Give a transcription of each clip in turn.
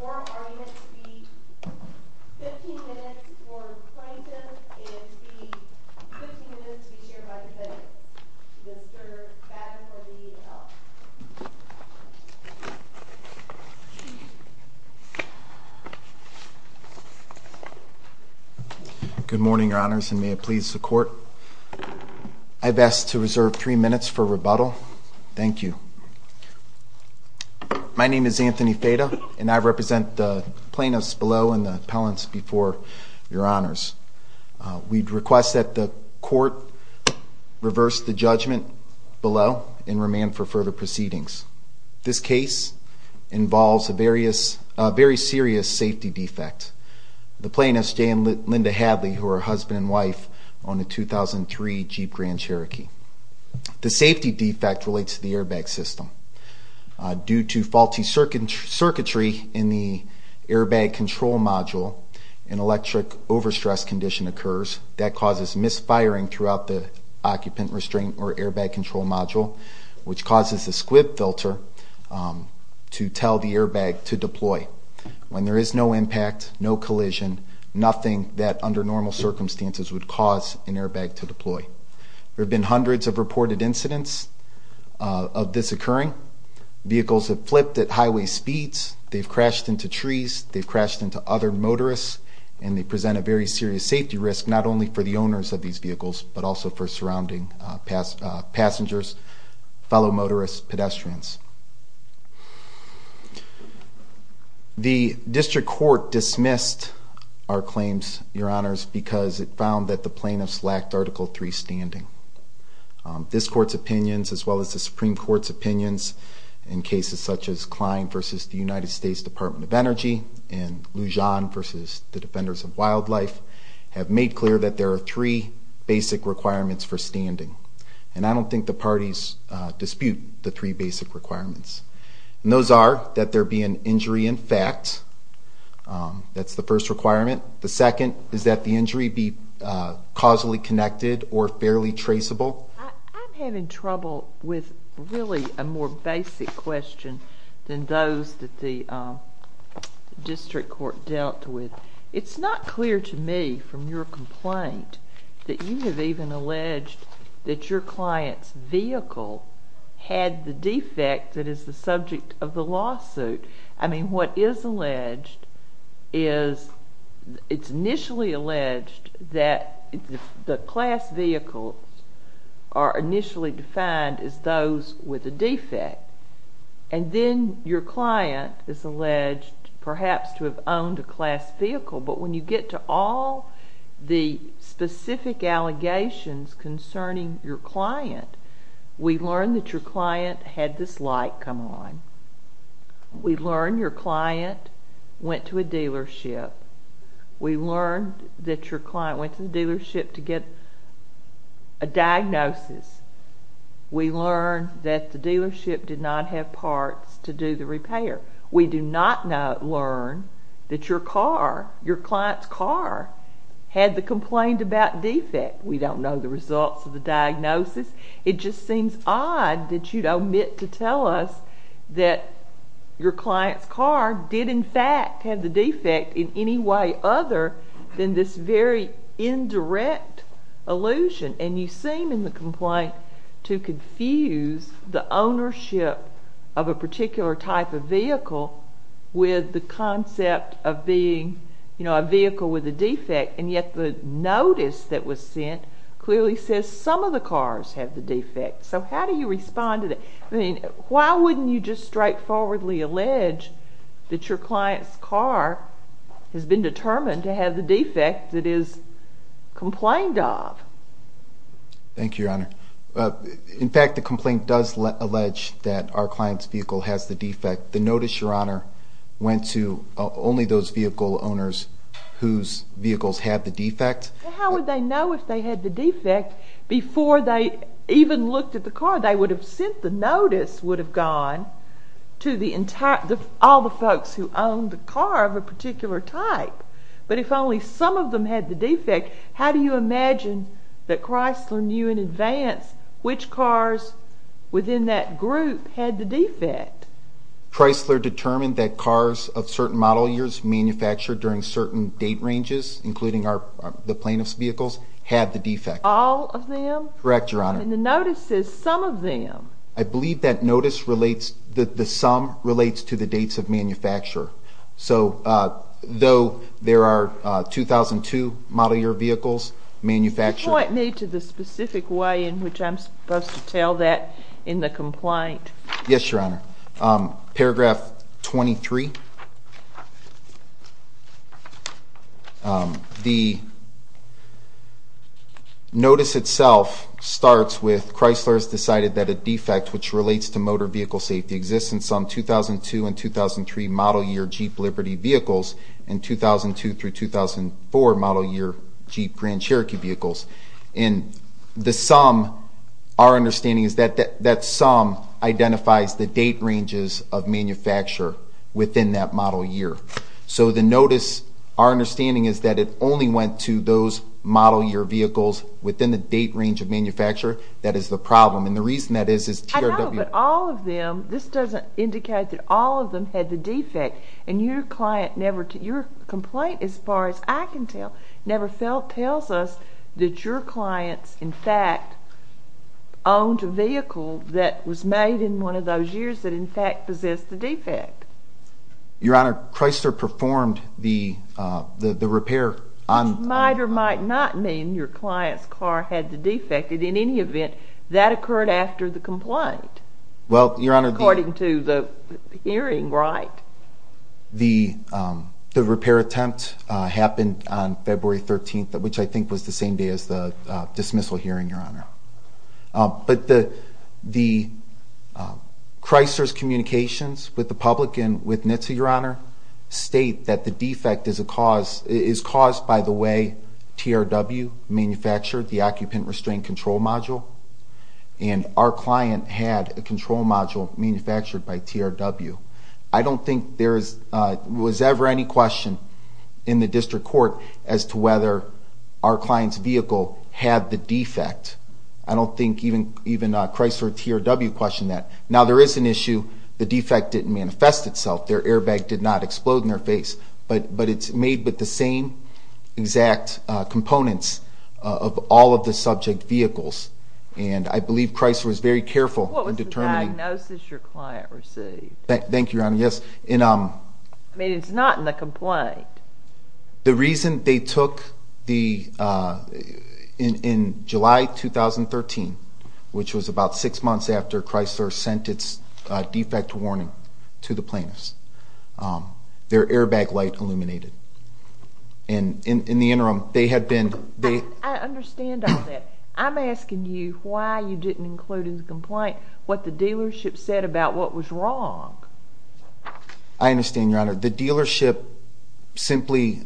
Oral argument to be 15 minutes for plaintiffs and 15 minutes to be chaired by defendants. Good morning, your honors, and may it please the court. I've asked to reserve three minutes for rebuttal. Thank you. My name is Anthony Feta, and I represent the plaintiffs below and the appellants before your honors. We request that the court reverse the judgment below and remand for further proceedings. This case involves a very serious safety defect. The plaintiffs, Jay and Linda Hadley, who are husband and wife, own a 2003 Jeep Grand Cherokee. The safety defect relates to the airbag system. Due to faulty circuitry in the airbag control module, an electric overstress condition occurs. That causes misfiring throughout the occupant restraint or airbag control module, which causes a squib filter to tell the airbag to deploy. When there is no impact, no collision, nothing that under normal circumstances would cause an airbag to deploy. There have been hundreds of reported incidents of this occurring. Vehicles have flipped at highway speeds. They've crashed into trees. They've crashed into other motorists. And they present a very serious safety risk, not only for the owners of these vehicles, but also for surrounding passengers, fellow motorists, pedestrians. The district court dismissed our claims, your honors, because it found that the plaintiffs lacked Article 3 standing. This court's opinions, as well as the Supreme Court's opinions in cases such as Klein v. The United States Department of Energy and Lujan v. The Defenders of Wildlife, have made clear that there are three basic requirements for standing. And I don't think the parties dispute the three basic requirements. And those are that there be an injury in fact. That's the first requirement. The second is that the injury be causally connected or fairly traceable. I'm having trouble with really a more basic question than those that the district court dealt with. It's not clear to me from your complaint that you have even alleged that your client's vehicle had the defect that is the subject of the lawsuit. I mean, what is alleged is it's initially alleged that the class vehicles are initially defined as those with a defect. And then your client is alleged perhaps to have owned a class vehicle. But when you get to all the specific allegations concerning your client, we learn that your client had this light come on. We learn your client went to a dealership. We learn that your client went to the dealership to get a diagnosis. We learn that the dealership did not have parts to do the repair. We do not learn that your car, your client's car, had the complaint about defect. We don't know the results of the diagnosis. It just seems odd that you'd omit to tell us that your client's car did in fact have the defect in any way other than this very indirect allusion. And you seem in the complaint to confuse the ownership of a particular type of vehicle with the concept of being a vehicle with a defect. And yet the notice that was sent clearly says some of the cars have the defect. So how do you respond to that? I mean, why wouldn't you just straightforwardly allege that your client's car has been determined to have the defect that is complained of? Thank you, Your Honor. In fact, the complaint does allege that our client's vehicle has the defect. But the notice, Your Honor, went to only those vehicle owners whose vehicles had the defect. How would they know if they had the defect? Before they even looked at the car, they would have sent the notice would have gone to all the folks who owned the car of a particular type. But if only some of them had the defect, how do you imagine that Chrysler knew in advance which cars within that group had the defect? Chrysler determined that cars of certain model years manufactured during certain date ranges, including the plaintiff's vehicles, had the defect. All of them? Correct, Your Honor. And the notice says some of them. I believe that notice relates that the sum relates to the dates of manufacture. So though there are 2002 model year vehicles manufactured. It's not made to the specific way in which I'm supposed to tell that in the complaint. Yes, Your Honor. Paragraph 23. The notice itself starts with Chrysler has decided that a defect which relates to motor vehicle safety exists in some 2002 and 2003 model year Jeep Liberty vehicles, and 2002 through 2004 model year Jeep Grand Cherokee vehicles. And the sum, our understanding is that that sum identifies the date ranges of manufacture within that model year. So the notice, our understanding is that it only went to those model year vehicles within the date range of manufacture. That is the problem. And the reason that is is TRW. I know, but all of them, this doesn't indicate that all of them had the defect. And your complaint, as far as I can tell, never tells us that your clients in fact owned a vehicle that was made in one of those years that in fact possessed the defect. Your Honor, Chrysler performed the repair on... Might or might not mean your client's car had the defect. In any event, that occurred after the complaint. Well, Your Honor... According to the hearing right. The repair attempt happened on February 13th, which I think was the same day as the dismissal hearing, Your Honor. But the Chrysler's communications with the public and with NHTSA, Your Honor, state that the defect is caused by the way TRW manufactured the occupant restraint control module. And our client had a control module manufactured by TRW. I don't think there was ever any question in the district court as to whether our client's vehicle had the defect. I don't think even Chrysler or TRW questioned that. Now there is an issue. The defect didn't manifest itself. Their airbag did not explode in their face. But it's made with the same exact components of all of the subject vehicles. And I believe Chrysler was very careful in determining... What was the diagnosis your client received? Thank you, Your Honor. Yes. I mean, it's not in the complaint. The reason they took the... In July 2013, which was about six months after Chrysler sent its defect warning to the plaintiffs, their airbag light illuminated. And in the interim, they had been... I understand all that. I'm asking you why you didn't include in the complaint what the dealership said about what was wrong. I understand, Your Honor. The dealership simply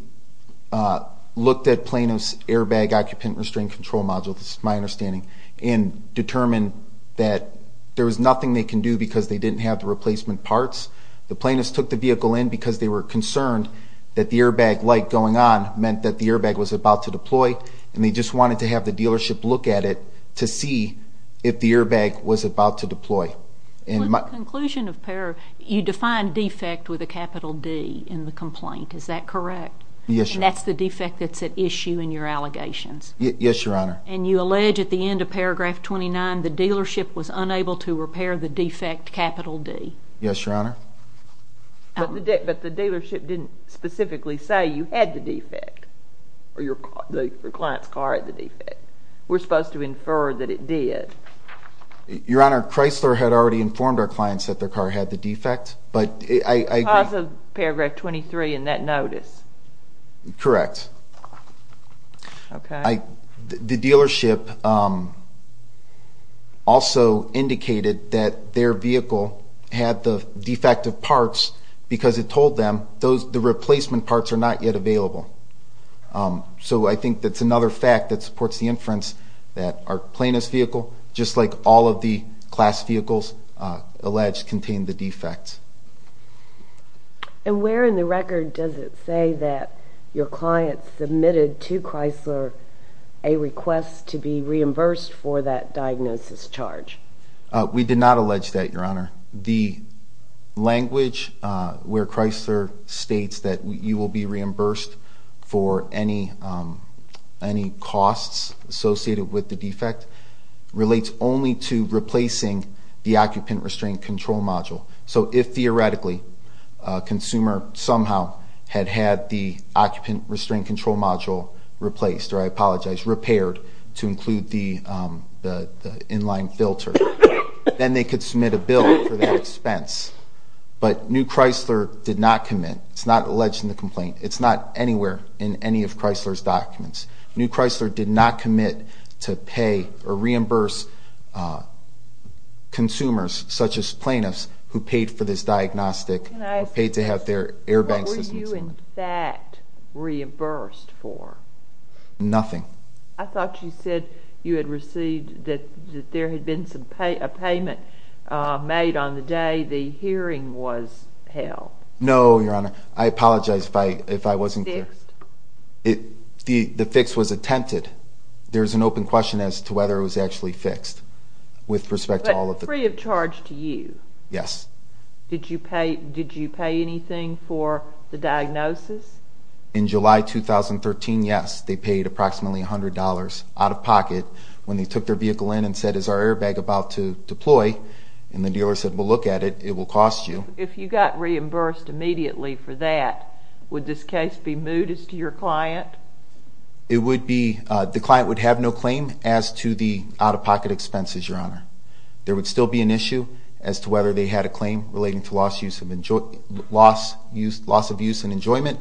looked at Plaintiff's airbag occupant restraint control module, this is my understanding, and determined that there was nothing they can do because they didn't have the replacement parts. The plaintiffs took the vehicle in because they were concerned that the airbag light going on meant that the airbag was about to deploy. And they just wanted to have the dealership look at it to see if the airbag was about to deploy. In conclusion of paragraph... You define defect with a capital D in the complaint, is that correct? Yes, Your Honor. And that's the defect that's at issue in your allegations? Yes, Your Honor. And you allege at the end of paragraph 29 the dealership was unable to repair the defect capital D? Yes, Your Honor. But the dealership didn't specifically say you had the defect? Or your client's car had the defect? We're supposed to infer that it did. Your Honor, Chrysler had already informed our clients that their car had the defect. But I... Because of paragraph 23 in that notice? Correct. Okay. The dealership also indicated that their vehicle had the defective parts because it told them the replacement parts are not yet available. So I think that's another fact that supports the inference that our plaintiff's vehicle, just like all of the class vehicles alleged, contained the defect. And where in the record does it say that your client submitted to Chrysler a request to be reimbursed for that diagnosis charge? We did not allege that, Your Honor. The language where Chrysler states that you will be reimbursed for any costs associated with the defect relates only to replacing the occupant restraint control module. So if, theoretically, a consumer somehow had had the occupant restraint control module replaced, or I apologize, repaired, to include the in-line filter, then they could submit a bill for that expense. But New Chrysler did not commit. It's not alleged in the complaint. It's not anywhere in any of Chrysler's documents. New Chrysler did not commit to pay or reimburse consumers, such as plaintiffs, who paid for this diagnostic, who paid to have their airbag systems... What were you, in fact, reimbursed for? Nothing. I thought you said you had received that there had been a payment made on the day the hearing was held. No, Your Honor. I apologize if I wasn't clear. Fixed? The fix was attempted. There is an open question as to whether it was actually fixed. But free of charge to you? Yes. Did you pay anything for the diagnosis? In July 2013, yes. They paid approximately $100 out of pocket when they took their vehicle in and said, Is our airbag about to deploy? And the dealer said, Well, look at it. It will cost you. If you got reimbursed immediately for that, would this case be moot as to your client? It would be. The client would have no claim as to the out-of-pocket expenses, Your Honor. There would still be an issue as to whether they had a claim relating to loss of use and enjoyment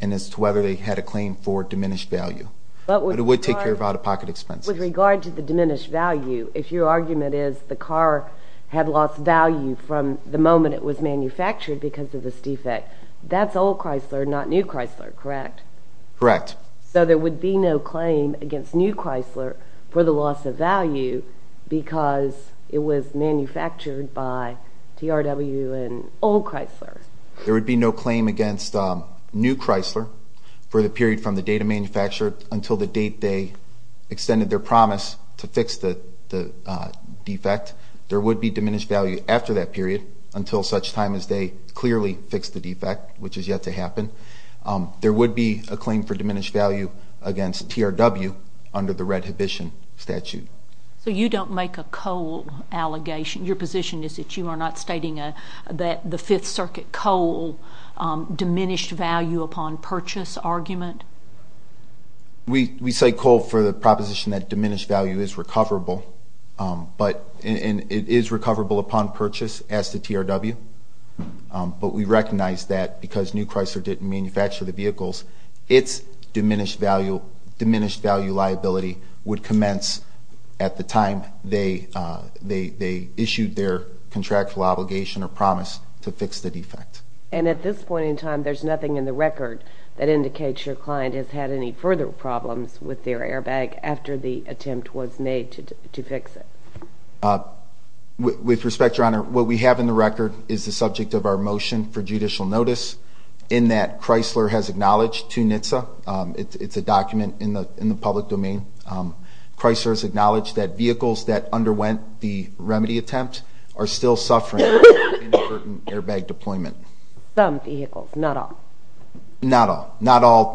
and as to whether they had a claim for diminished value. But it would take care of out-of-pocket expenses. With regard to the diminished value, if your argument is the car had lost value from the moment it was manufactured because of this defect, that's old Chrysler, not new Chrysler, correct? Correct. So there would be no claim against new Chrysler for the loss of value because it was manufactured by TRW and old Chrysler. There would be no claim against new Chrysler for the period from the date it was manufactured until the date they extended their promise to fix the defect. There would be diminished value after that period until such time as they clearly fixed the defect, which is yet to happen. There would be a claim for diminished value against TRW under the redhibition statute. So you don't make a coal allegation? Your position is that you are not stating that the Fifth Circuit coal diminished value upon purchase argument? We say coal for the proposition that diminished value is recoverable, and it is recoverable upon purchase as to TRW. But we recognize that because new Chrysler didn't manufacture the vehicles, its diminished value liability would commence at the time they issued their contractual obligation or promise to fix the defect. And at this point in time, there's nothing in the record that indicates your client has had any further problems with their airbag after the attempt was made to fix it? With respect, Your Honor, what we have in the record is the subject of our motion for judicial notice in that Chrysler has acknowledged to NHTSA. It's a document in the public domain. Chrysler has acknowledged that vehicles that underwent the remedy attempt are still suffering from inadvertent airbag deployment. Some vehicles, not all? Not all.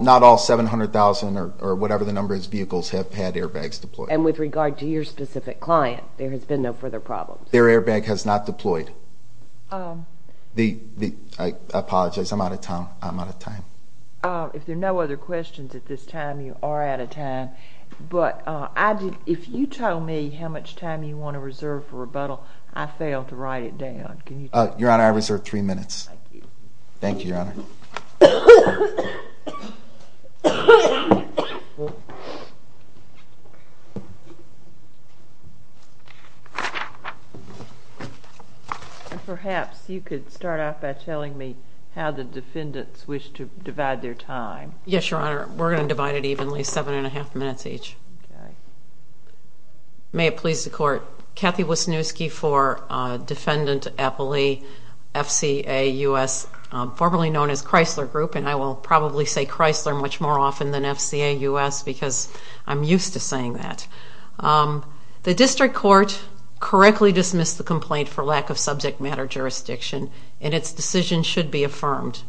Not all 700,000 or whatever the number of vehicles have had airbags deployed. And with regard to your specific client, there has been no further problems? Their airbag has not deployed. I apologize. I'm out of time. I'm out of time. If there are no other questions at this time, you are out of time. But if you tell me how much time you want to reserve for rebuttal, I failed to write it down. Your Honor, I reserve three minutes. Thank you. Thank you, Your Honor. And perhaps you could start off by telling me how the defendants wish to divide their time. Yes, Your Honor. We're going to divide it evenly, seven and a half minutes each. Okay. May it please the Court, Kathy Wisniewski for Defendant Appley, FCA U.S., formerly known as Chrysler Group, and I will probably say Chrysler much more often than FCA U.S. because I'm used to saying that. The district court correctly dismissed the complaint for lack of subject matter jurisdiction, and its decision should be affirmed.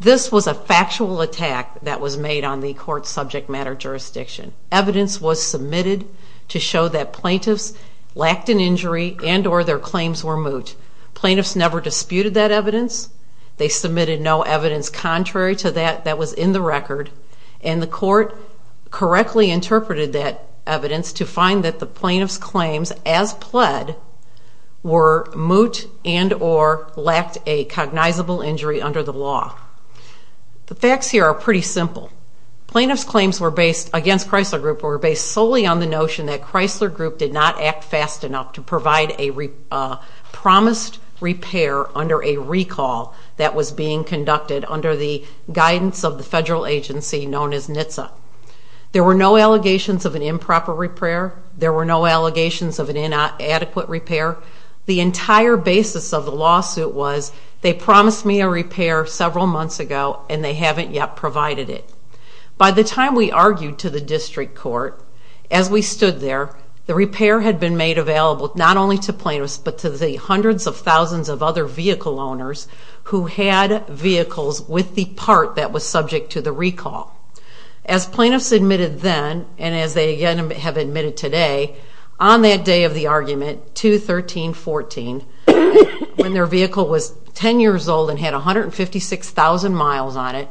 This was a factual attack that was made on the court's subject matter jurisdiction. Evidence was submitted to show that plaintiffs lacked an injury and or their claims were moot. Plaintiffs never disputed that evidence. They submitted no evidence contrary to that that was in the record, and the court correctly interpreted that evidence to find that the plaintiffs' claims, as pled, were moot and or lacked a cognizable injury under the law. The facts here are pretty simple. Plaintiffs' claims against Chrysler Group were based solely on the notion that Chrysler Group did not act fast enough to provide a promised repair under a recall that was being conducted under the guidance of the federal agency known as NHTSA. There were no allegations of an improper repair. There were no allegations of an inadequate repair. The entire basis of the lawsuit was they promised me a repair several months ago, and they haven't yet provided it. By the time we argued to the district court, as we stood there, the repair had been made available not only to plaintiffs, but to the hundreds of thousands of other vehicle owners who had vehicles with the part that was subject to the recall. As plaintiffs admitted then, and as they again have admitted today, on that day of the argument, 2-13-14, when their vehicle was 10 years old and had 156,000 miles on it,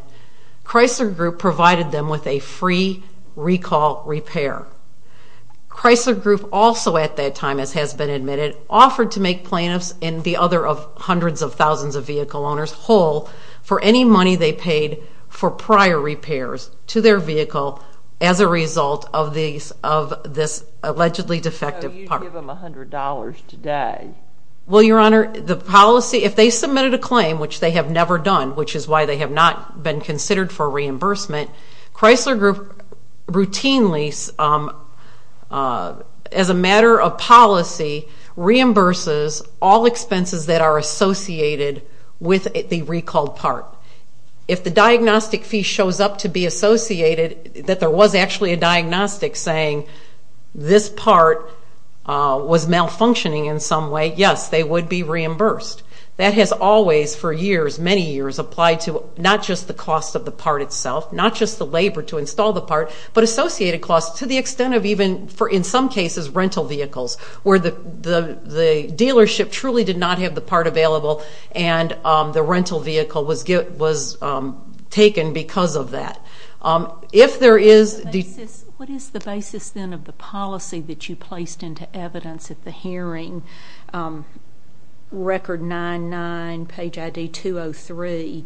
Chrysler Group provided them with a free recall repair. Chrysler Group also at that time, as has been admitted, offered to make plaintiffs and the other hundreds of thousands of vehicle owners whole for any money they paid for prior repairs to their vehicle as a result of this allegedly defective part. So you give them $100 today. Well, Your Honor, the policy, if they submitted a claim, which they have never done, which is why they have not been considered for reimbursement, Chrysler Group routinely, as a matter of policy, reimburses all expenses that are associated with the recalled part. If the diagnostic fee shows up to be associated that there was actually a diagnostic saying this part was malfunctioning in some way, yes, they would be reimbursed. That has always, for years, many years, applied to not just the cost of the part itself, not just the labor to install the part, but associated costs to the extent of even, in some cases, rental vehicles, where the dealership truly did not have the part available and the rental vehicle was taken because of that. What is the basis, then, of the policy that you placed into evidence at the hearing, record 99, page ID 203,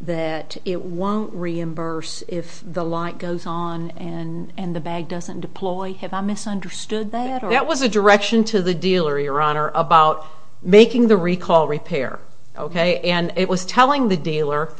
that it won't reimburse if the light goes on and the bag doesn't deploy? Have I misunderstood that? That was a direction to the dealer, Your Honor, about making the recall repair. And it was telling the dealer,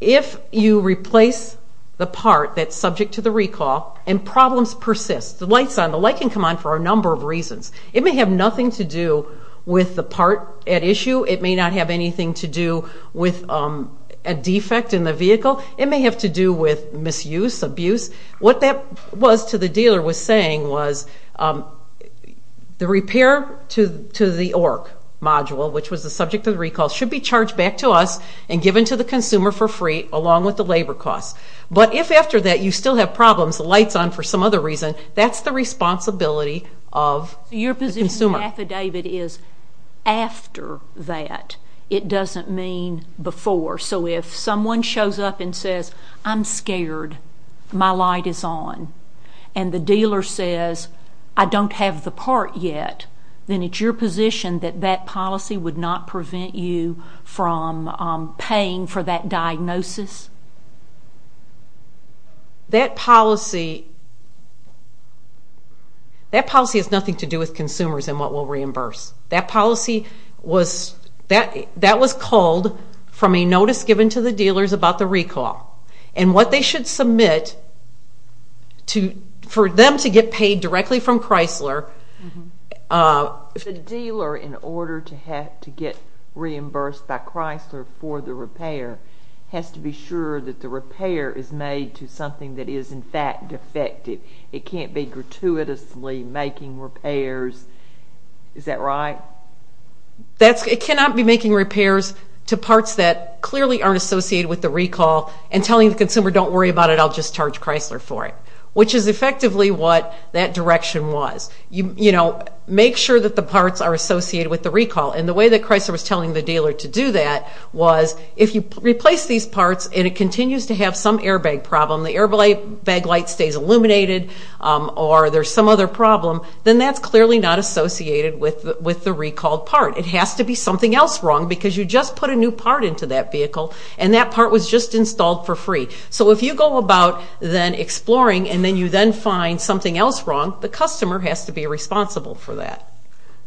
if you replace the part that's subject to the recall and problems persist, the light's on, the light can come on for a number of reasons. It may have nothing to do with the part at issue. It may not have anything to do with a defect in the vehicle. It may have to do with misuse, abuse. What that was to the dealer was saying was, the repair to the ORC module, which was the subject of the recall, should be charged back to us and given to the consumer for free, along with the labor costs. But if after that you still have problems, the light's on for some other reason, that's the responsibility of the consumer. Your position in the affidavit is, after that, it doesn't mean before. So if someone shows up and says, I'm scared, my light is on, and the dealer says, I don't have the part yet, then it's your position that that policy would not prevent you from paying for that diagnosis? That policy has nothing to do with consumers and what we'll reimburse. That policy was called from a notice given to the dealers about the recall. And what they should submit for them to get paid directly from Chrysler. The dealer, in order to get reimbursed by Chrysler for the repair, has to be sure that the repair is made to something that is in fact defective. It can't be gratuitously making repairs. Is that right? It cannot be making repairs to parts that clearly aren't associated with the recall and telling the consumer, don't worry about it, I'll just charge Chrysler for it. Which is effectively what that direction was. Make sure that the parts are associated with the recall. And the way that Chrysler was telling the dealer to do that was, if you replace these parts and it continues to have some airbag problem, the airbag light stays illuminated or there's some other problem, then that's clearly not associated with the recalled part. It has to be something else wrong because you just put a new part into that vehicle and that part was just installed for free. So if you go about then exploring and then you then find something else wrong, the customer has to be responsible for that.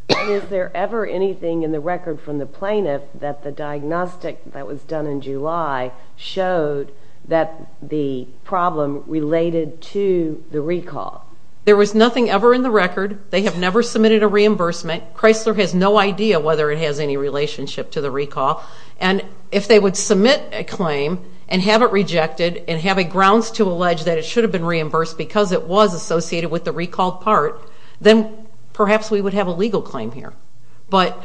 Is there ever anything in the record from the plaintiff that the diagnostic that was done in July showed that the problem related to the recall? There was nothing ever in the record. They have never submitted a reimbursement. Chrysler has no idea whether it has any relationship to the recall. And if they would submit a claim and have it rejected and have a grounds to allege that it should have been reimbursed because it was associated with the recalled part, then perhaps we would have a legal claim here. But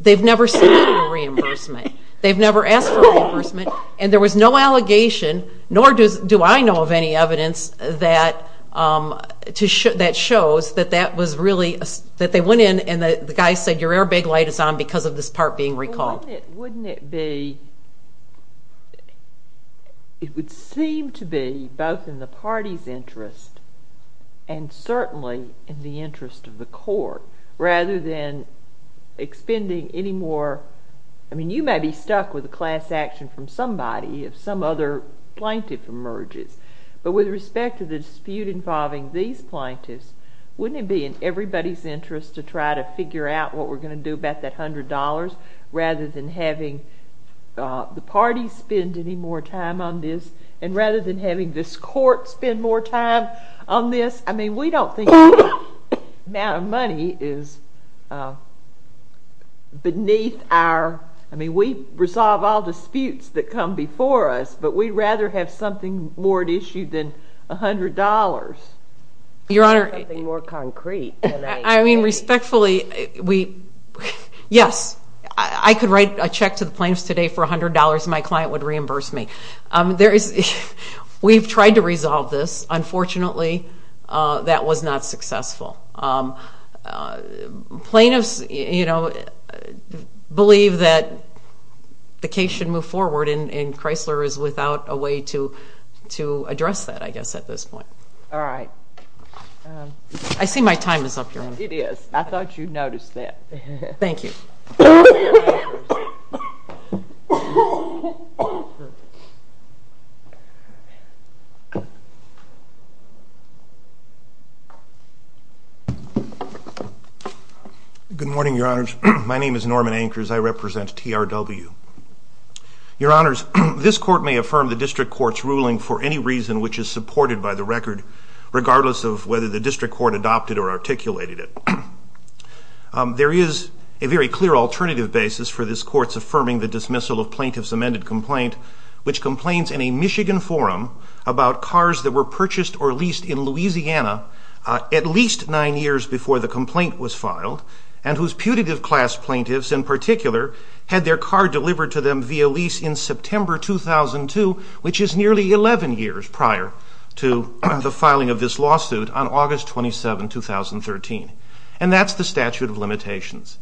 they've never submitted a reimbursement. They've never asked for reimbursement. And there was no allegation, nor do I know of any evidence, that shows that they went in and the guy said, your airbag light is on because of this part being recalled. Wouldn't it be, it would seem to be both in the party's interest and certainly in the interest of the court rather than expending any more. I mean, you may be stuck with a class action from somebody if some other plaintiff emerges. But with respect to the dispute involving these plaintiffs, wouldn't it be in everybody's interest to try to figure out what we're going to do about that $100 rather than having the party spend any more time on this and rather than having this court spend more time on this? I mean, we don't think that amount of money is beneath our, I mean, we resolve all disputes that come before us, but we'd rather have something more at issue than $100. Your Honor, I mean, respectfully, yes, I could write a check to the plaintiffs today for $100 and my client would reimburse me. We've tried to resolve this. Unfortunately, that was not successful. Plaintiffs believe that the case should move forward and Chrysler is without a way to address that, I guess, at this point. All right. I see my time is up, Your Honor. It is. I thought you noticed that. Thank you. Good morning, Your Honors. My name is Norman Ankers. I represent TRW. Your Honors, this court may affirm the district court's ruling for any reason which is supported by the record, regardless of whether the district court adopted or articulated it. There is a very clear alternative basis for this court's affirming which goes to the plaintiff's attorney, about cars that were purchased or leased in Louisiana at least nine years before the complaint was filed and whose putative class plaintiffs, in particular, had their car delivered to them via lease in September 2002, which is nearly 11 years prior to the filing of this lawsuit on August 27, 2013. And that's the statute of limitations.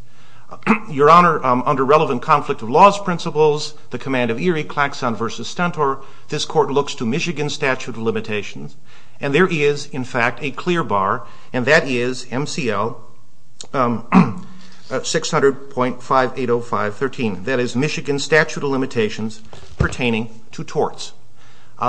Your Honor, under relevant conflict of laws principles, the command of Erie, Claxon v. Stentor, this court looks to Michigan statute of limitations, and there is, in fact, a clear bar, and that is MCL 600.5805.13. That is Michigan statute of limitations pertaining to torts.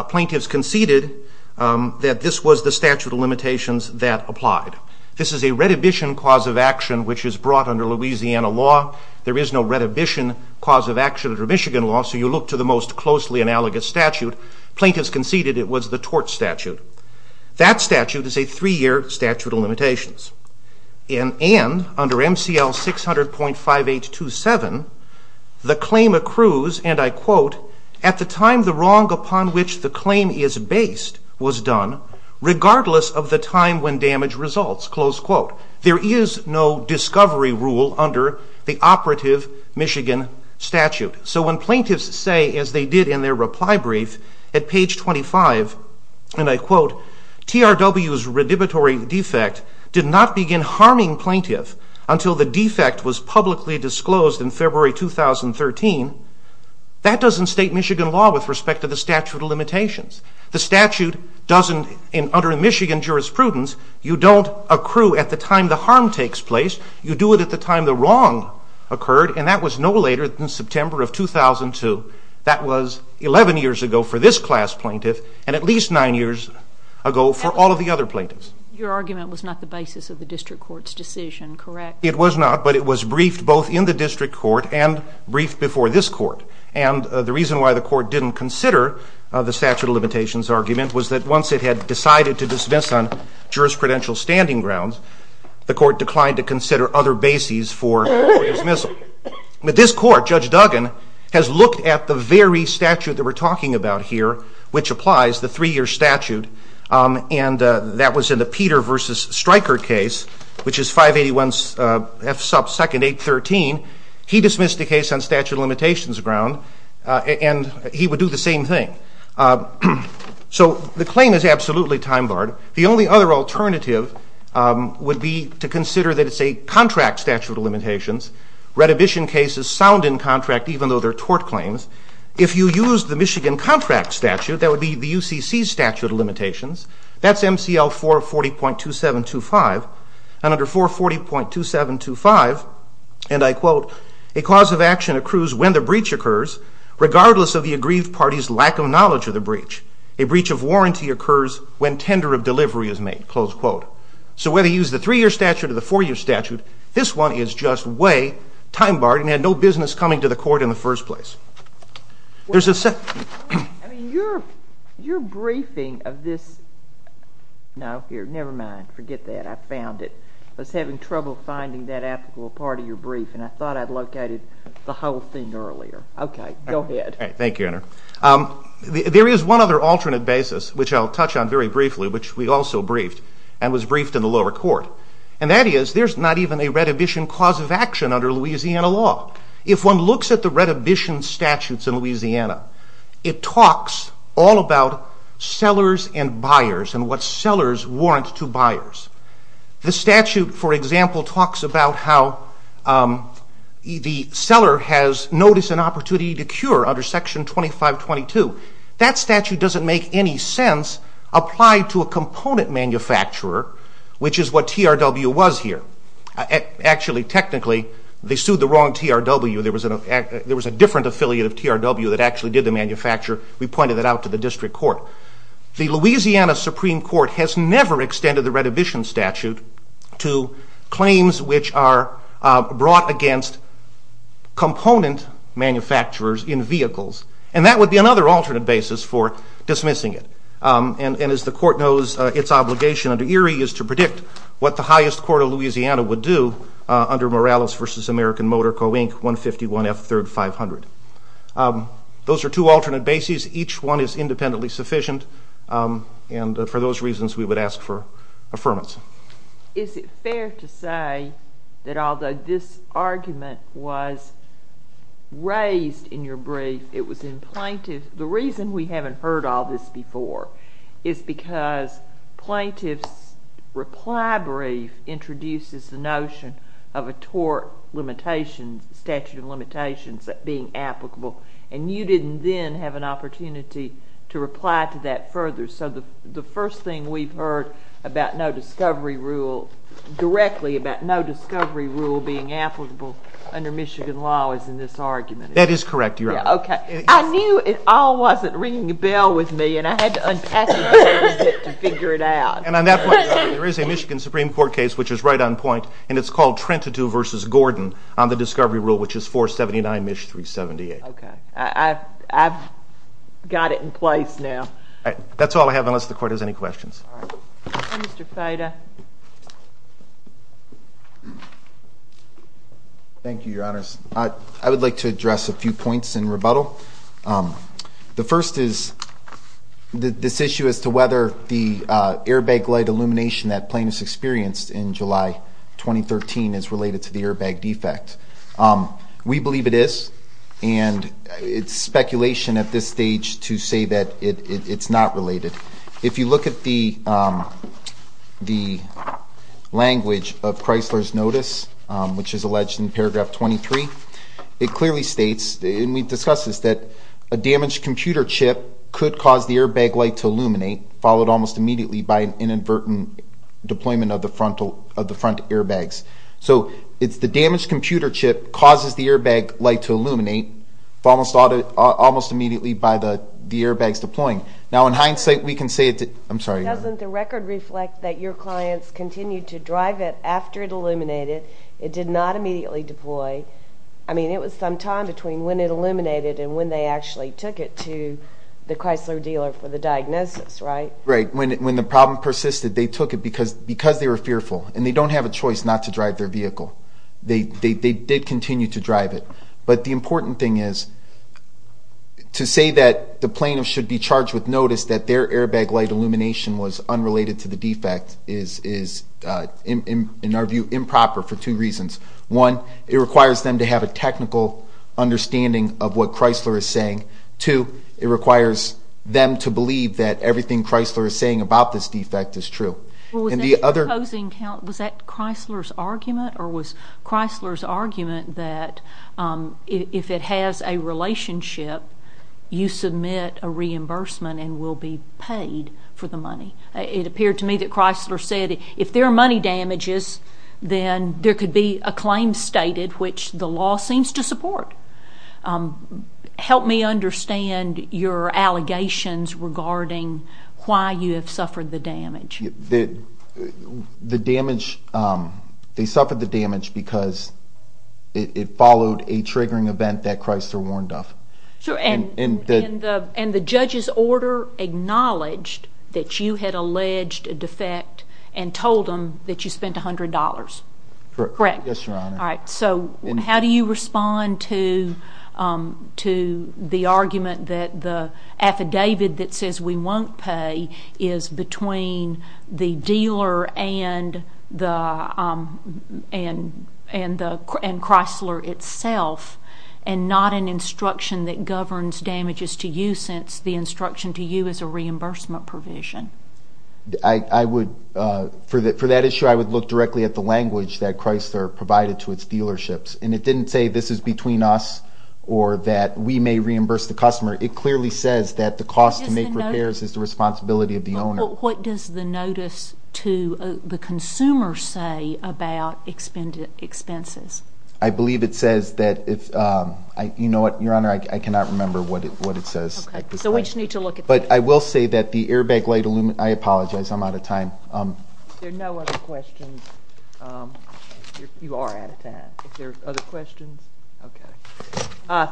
Plaintiffs conceded that this was the statute of limitations that applied. This is a redhibition cause of action which is brought under Louisiana law. There is no redhibition cause of action under Michigan law, so you look to the most closely analogous statute. Plaintiffs conceded it was the tort statute. That statute is a three-year statute of limitations. And under MCL 600.5827, the claim accrues, and I quote, at the time the wrong upon which the claim is based was done, regardless of the time when damage results, close quote. There is no discovery rule under the operative Michigan statute. So when plaintiffs say, as they did in their reply brief, at page 25, and I quote, TRW's redhibitory defect did not begin harming plaintiff until the defect was publicly disclosed in February 2013, that doesn't state Michigan law with respect to the statute of limitations. The statute doesn't, and under Michigan jurisprudence, you don't accrue at the time the harm takes place. You do it at the time the wrong occurred, and that was no later than September of 2002. That was 11 years ago for this class plaintiff, and at least nine years ago for all of the other plaintiffs. Your argument was not the basis of the district court's decision, correct? It was not, but it was briefed both in the district court and briefed before this court. And the reason why the court didn't consider the statute of limitations argument was that once it had decided to dismiss on jurisprudential standing grounds, the court declined to consider other bases for dismissal. But this court, Judge Duggan, has looked at the very statute that we're talking about here, which applies, the three-year statute, and that was in the Peter v. Stryker case, which is 581 F sub 2nd, 813. He dismissed the case on statute of limitations ground, and he would do the same thing. So the claim is absolutely time-barred. The only other alternative would be to consider that it's a contract statute of limitations. Redhibition cases sound in contract, even though they're tort claims. If you use the Michigan contract statute, that would be the UCC statute of limitations. That's MCL 440.2725. And under 440.2725, and I quote, a cause of action accrues when the breach occurs, regardless of the aggrieved party's lack of knowledge of the breach. A breach of warranty occurs when tender of delivery is made, close quote. So whether you use the three-year statute or the four-year statute, this one is just way time-barred and had no business coming to the court in the first place. There's a... I mean, your briefing of this... No, here, never mind. Forget that. I found it. I was having trouble finding that applicable part of your brief, and I thought I'd located the whole thing earlier. Okay, go ahead. Thank you, Anna. There is one other alternate basis, which I'll touch on very briefly, which we also briefed, and was briefed in the lower court, and that is there's not even a redhibition cause of action under Louisiana law. If one looks at the redhibition statutes in Louisiana, it talks all about sellers and buyers and what sellers warrant to buyers. The statute, for example, talks about how the seller has noticed an opportunity to cure under Section 2522. That statute doesn't make any sense applied to a component manufacturer, which is what TRW was here. Actually, technically, they sued the wrong TRW. There was a different affiliate of TRW that actually did the manufacture. We pointed that out to the district court. The Louisiana Supreme Court has never extended the redhibition statute to claims which are brought against component manufacturers in vehicles, and that would be another alternate basis for dismissing it. And as the court knows, its obligation under Erie is to predict what the highest court of Louisiana would do under Morales v. American Motor Co., Inc., 151 F. 3rd, 500. Those are two alternate bases. Each one is independently sufficient, and for those reasons we would ask for affirmation. Is it fair to say that although this argument was raised in your brief, it was in plaintiff's? The reason we haven't heard all this before is because plaintiff's reply brief introduces the notion of a tort limitation, statute of limitations, being applicable, and you didn't then have an opportunity to reply to that further. So the first thing we've heard about no discovery rule, directly about no discovery rule being applicable under Michigan law, is in this argument. That is correct, Your Honor. I knew it all wasn't ringing a bell with me, and I had to unpackage it to figure it out. And on that point, there is a Michigan Supreme Court case, which is right on point, and it's called Trentadue v. Gordon on the discovery rule, which is 479 MISH 378. Okay. I've got it in place now. That's all I have, unless the Court has any questions. All right. Mr. Fida. Thank you, Your Honors. I would like to address a few points in rebuttal. The first is this issue as to whether the airbag light illumination that plaintiffs experienced in July 2013 is related to the airbag defect. We believe it is, and it's speculation at this stage to say that it's not related. If you look at the language of Chrysler's notice, which is alleged in paragraph 23, it clearly states, and we've discussed this, that a damaged computer chip could cause the airbag light to illuminate, followed almost immediately by an inadvertent deployment of the front airbags. So it's the damaged computer chip causes the airbag light to illuminate, followed almost immediately by the airbags deploying. Now, in hindsight, we can say it did. I'm sorry. Doesn't the record reflect that your clients continued to drive it after it illuminated? It did not immediately deploy. I mean, it was some time between when it illuminated and when they actually took it to the Chrysler dealer for the diagnosis, right? Right. When the problem persisted, they took it because they were fearful, and they don't have a choice not to drive their vehicle. They did continue to drive it. But the important thing is to say that the plaintiff should be charged with notice that their airbag light illumination was unrelated to the defect is, in our view, improper for two reasons. One, it requires them to have a technical understanding of what Chrysler is saying. Two, it requires them to believe that everything Chrysler is saying about this defect is true. Was that Chrysler's argument or was Chrysler's argument that if it has a relationship, you submit a reimbursement and will be paid for the money? It appeared to me that Chrysler said if there are money damages, then there could be a claim stated, which the law seems to support. Help me understand your allegations regarding why you have suffered the damage. The damage, they suffered the damage because it followed a triggering event that Chrysler warned of. And the judge's order acknowledged that you had alleged a defect and told them that you spent $100? Correct. Yes, Your Honor. All right. So how do you respond to the argument that the affidavit that says we won't pay is between the dealer and Chrysler itself and not an instruction that governs damages to you since the instruction to you is a reimbursement provision? For that issue, I would look directly at the language that Chrysler provided to its dealerships. And it didn't say this is between us or that we may reimburse the customer. It clearly says that the cost to make repairs is the responsibility of the owner. What does the notice to the consumer say about expenses? I believe it says that if, you know what, Your Honor, I cannot remember what it says. Okay. So we just need to look at that. But I will say that the airbag light, I apologize, I'm out of time. There are no other questions. You are out of time. Are there other questions? Okay.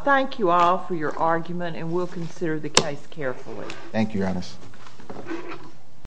Thank you all for your argument, and we'll consider the case carefully.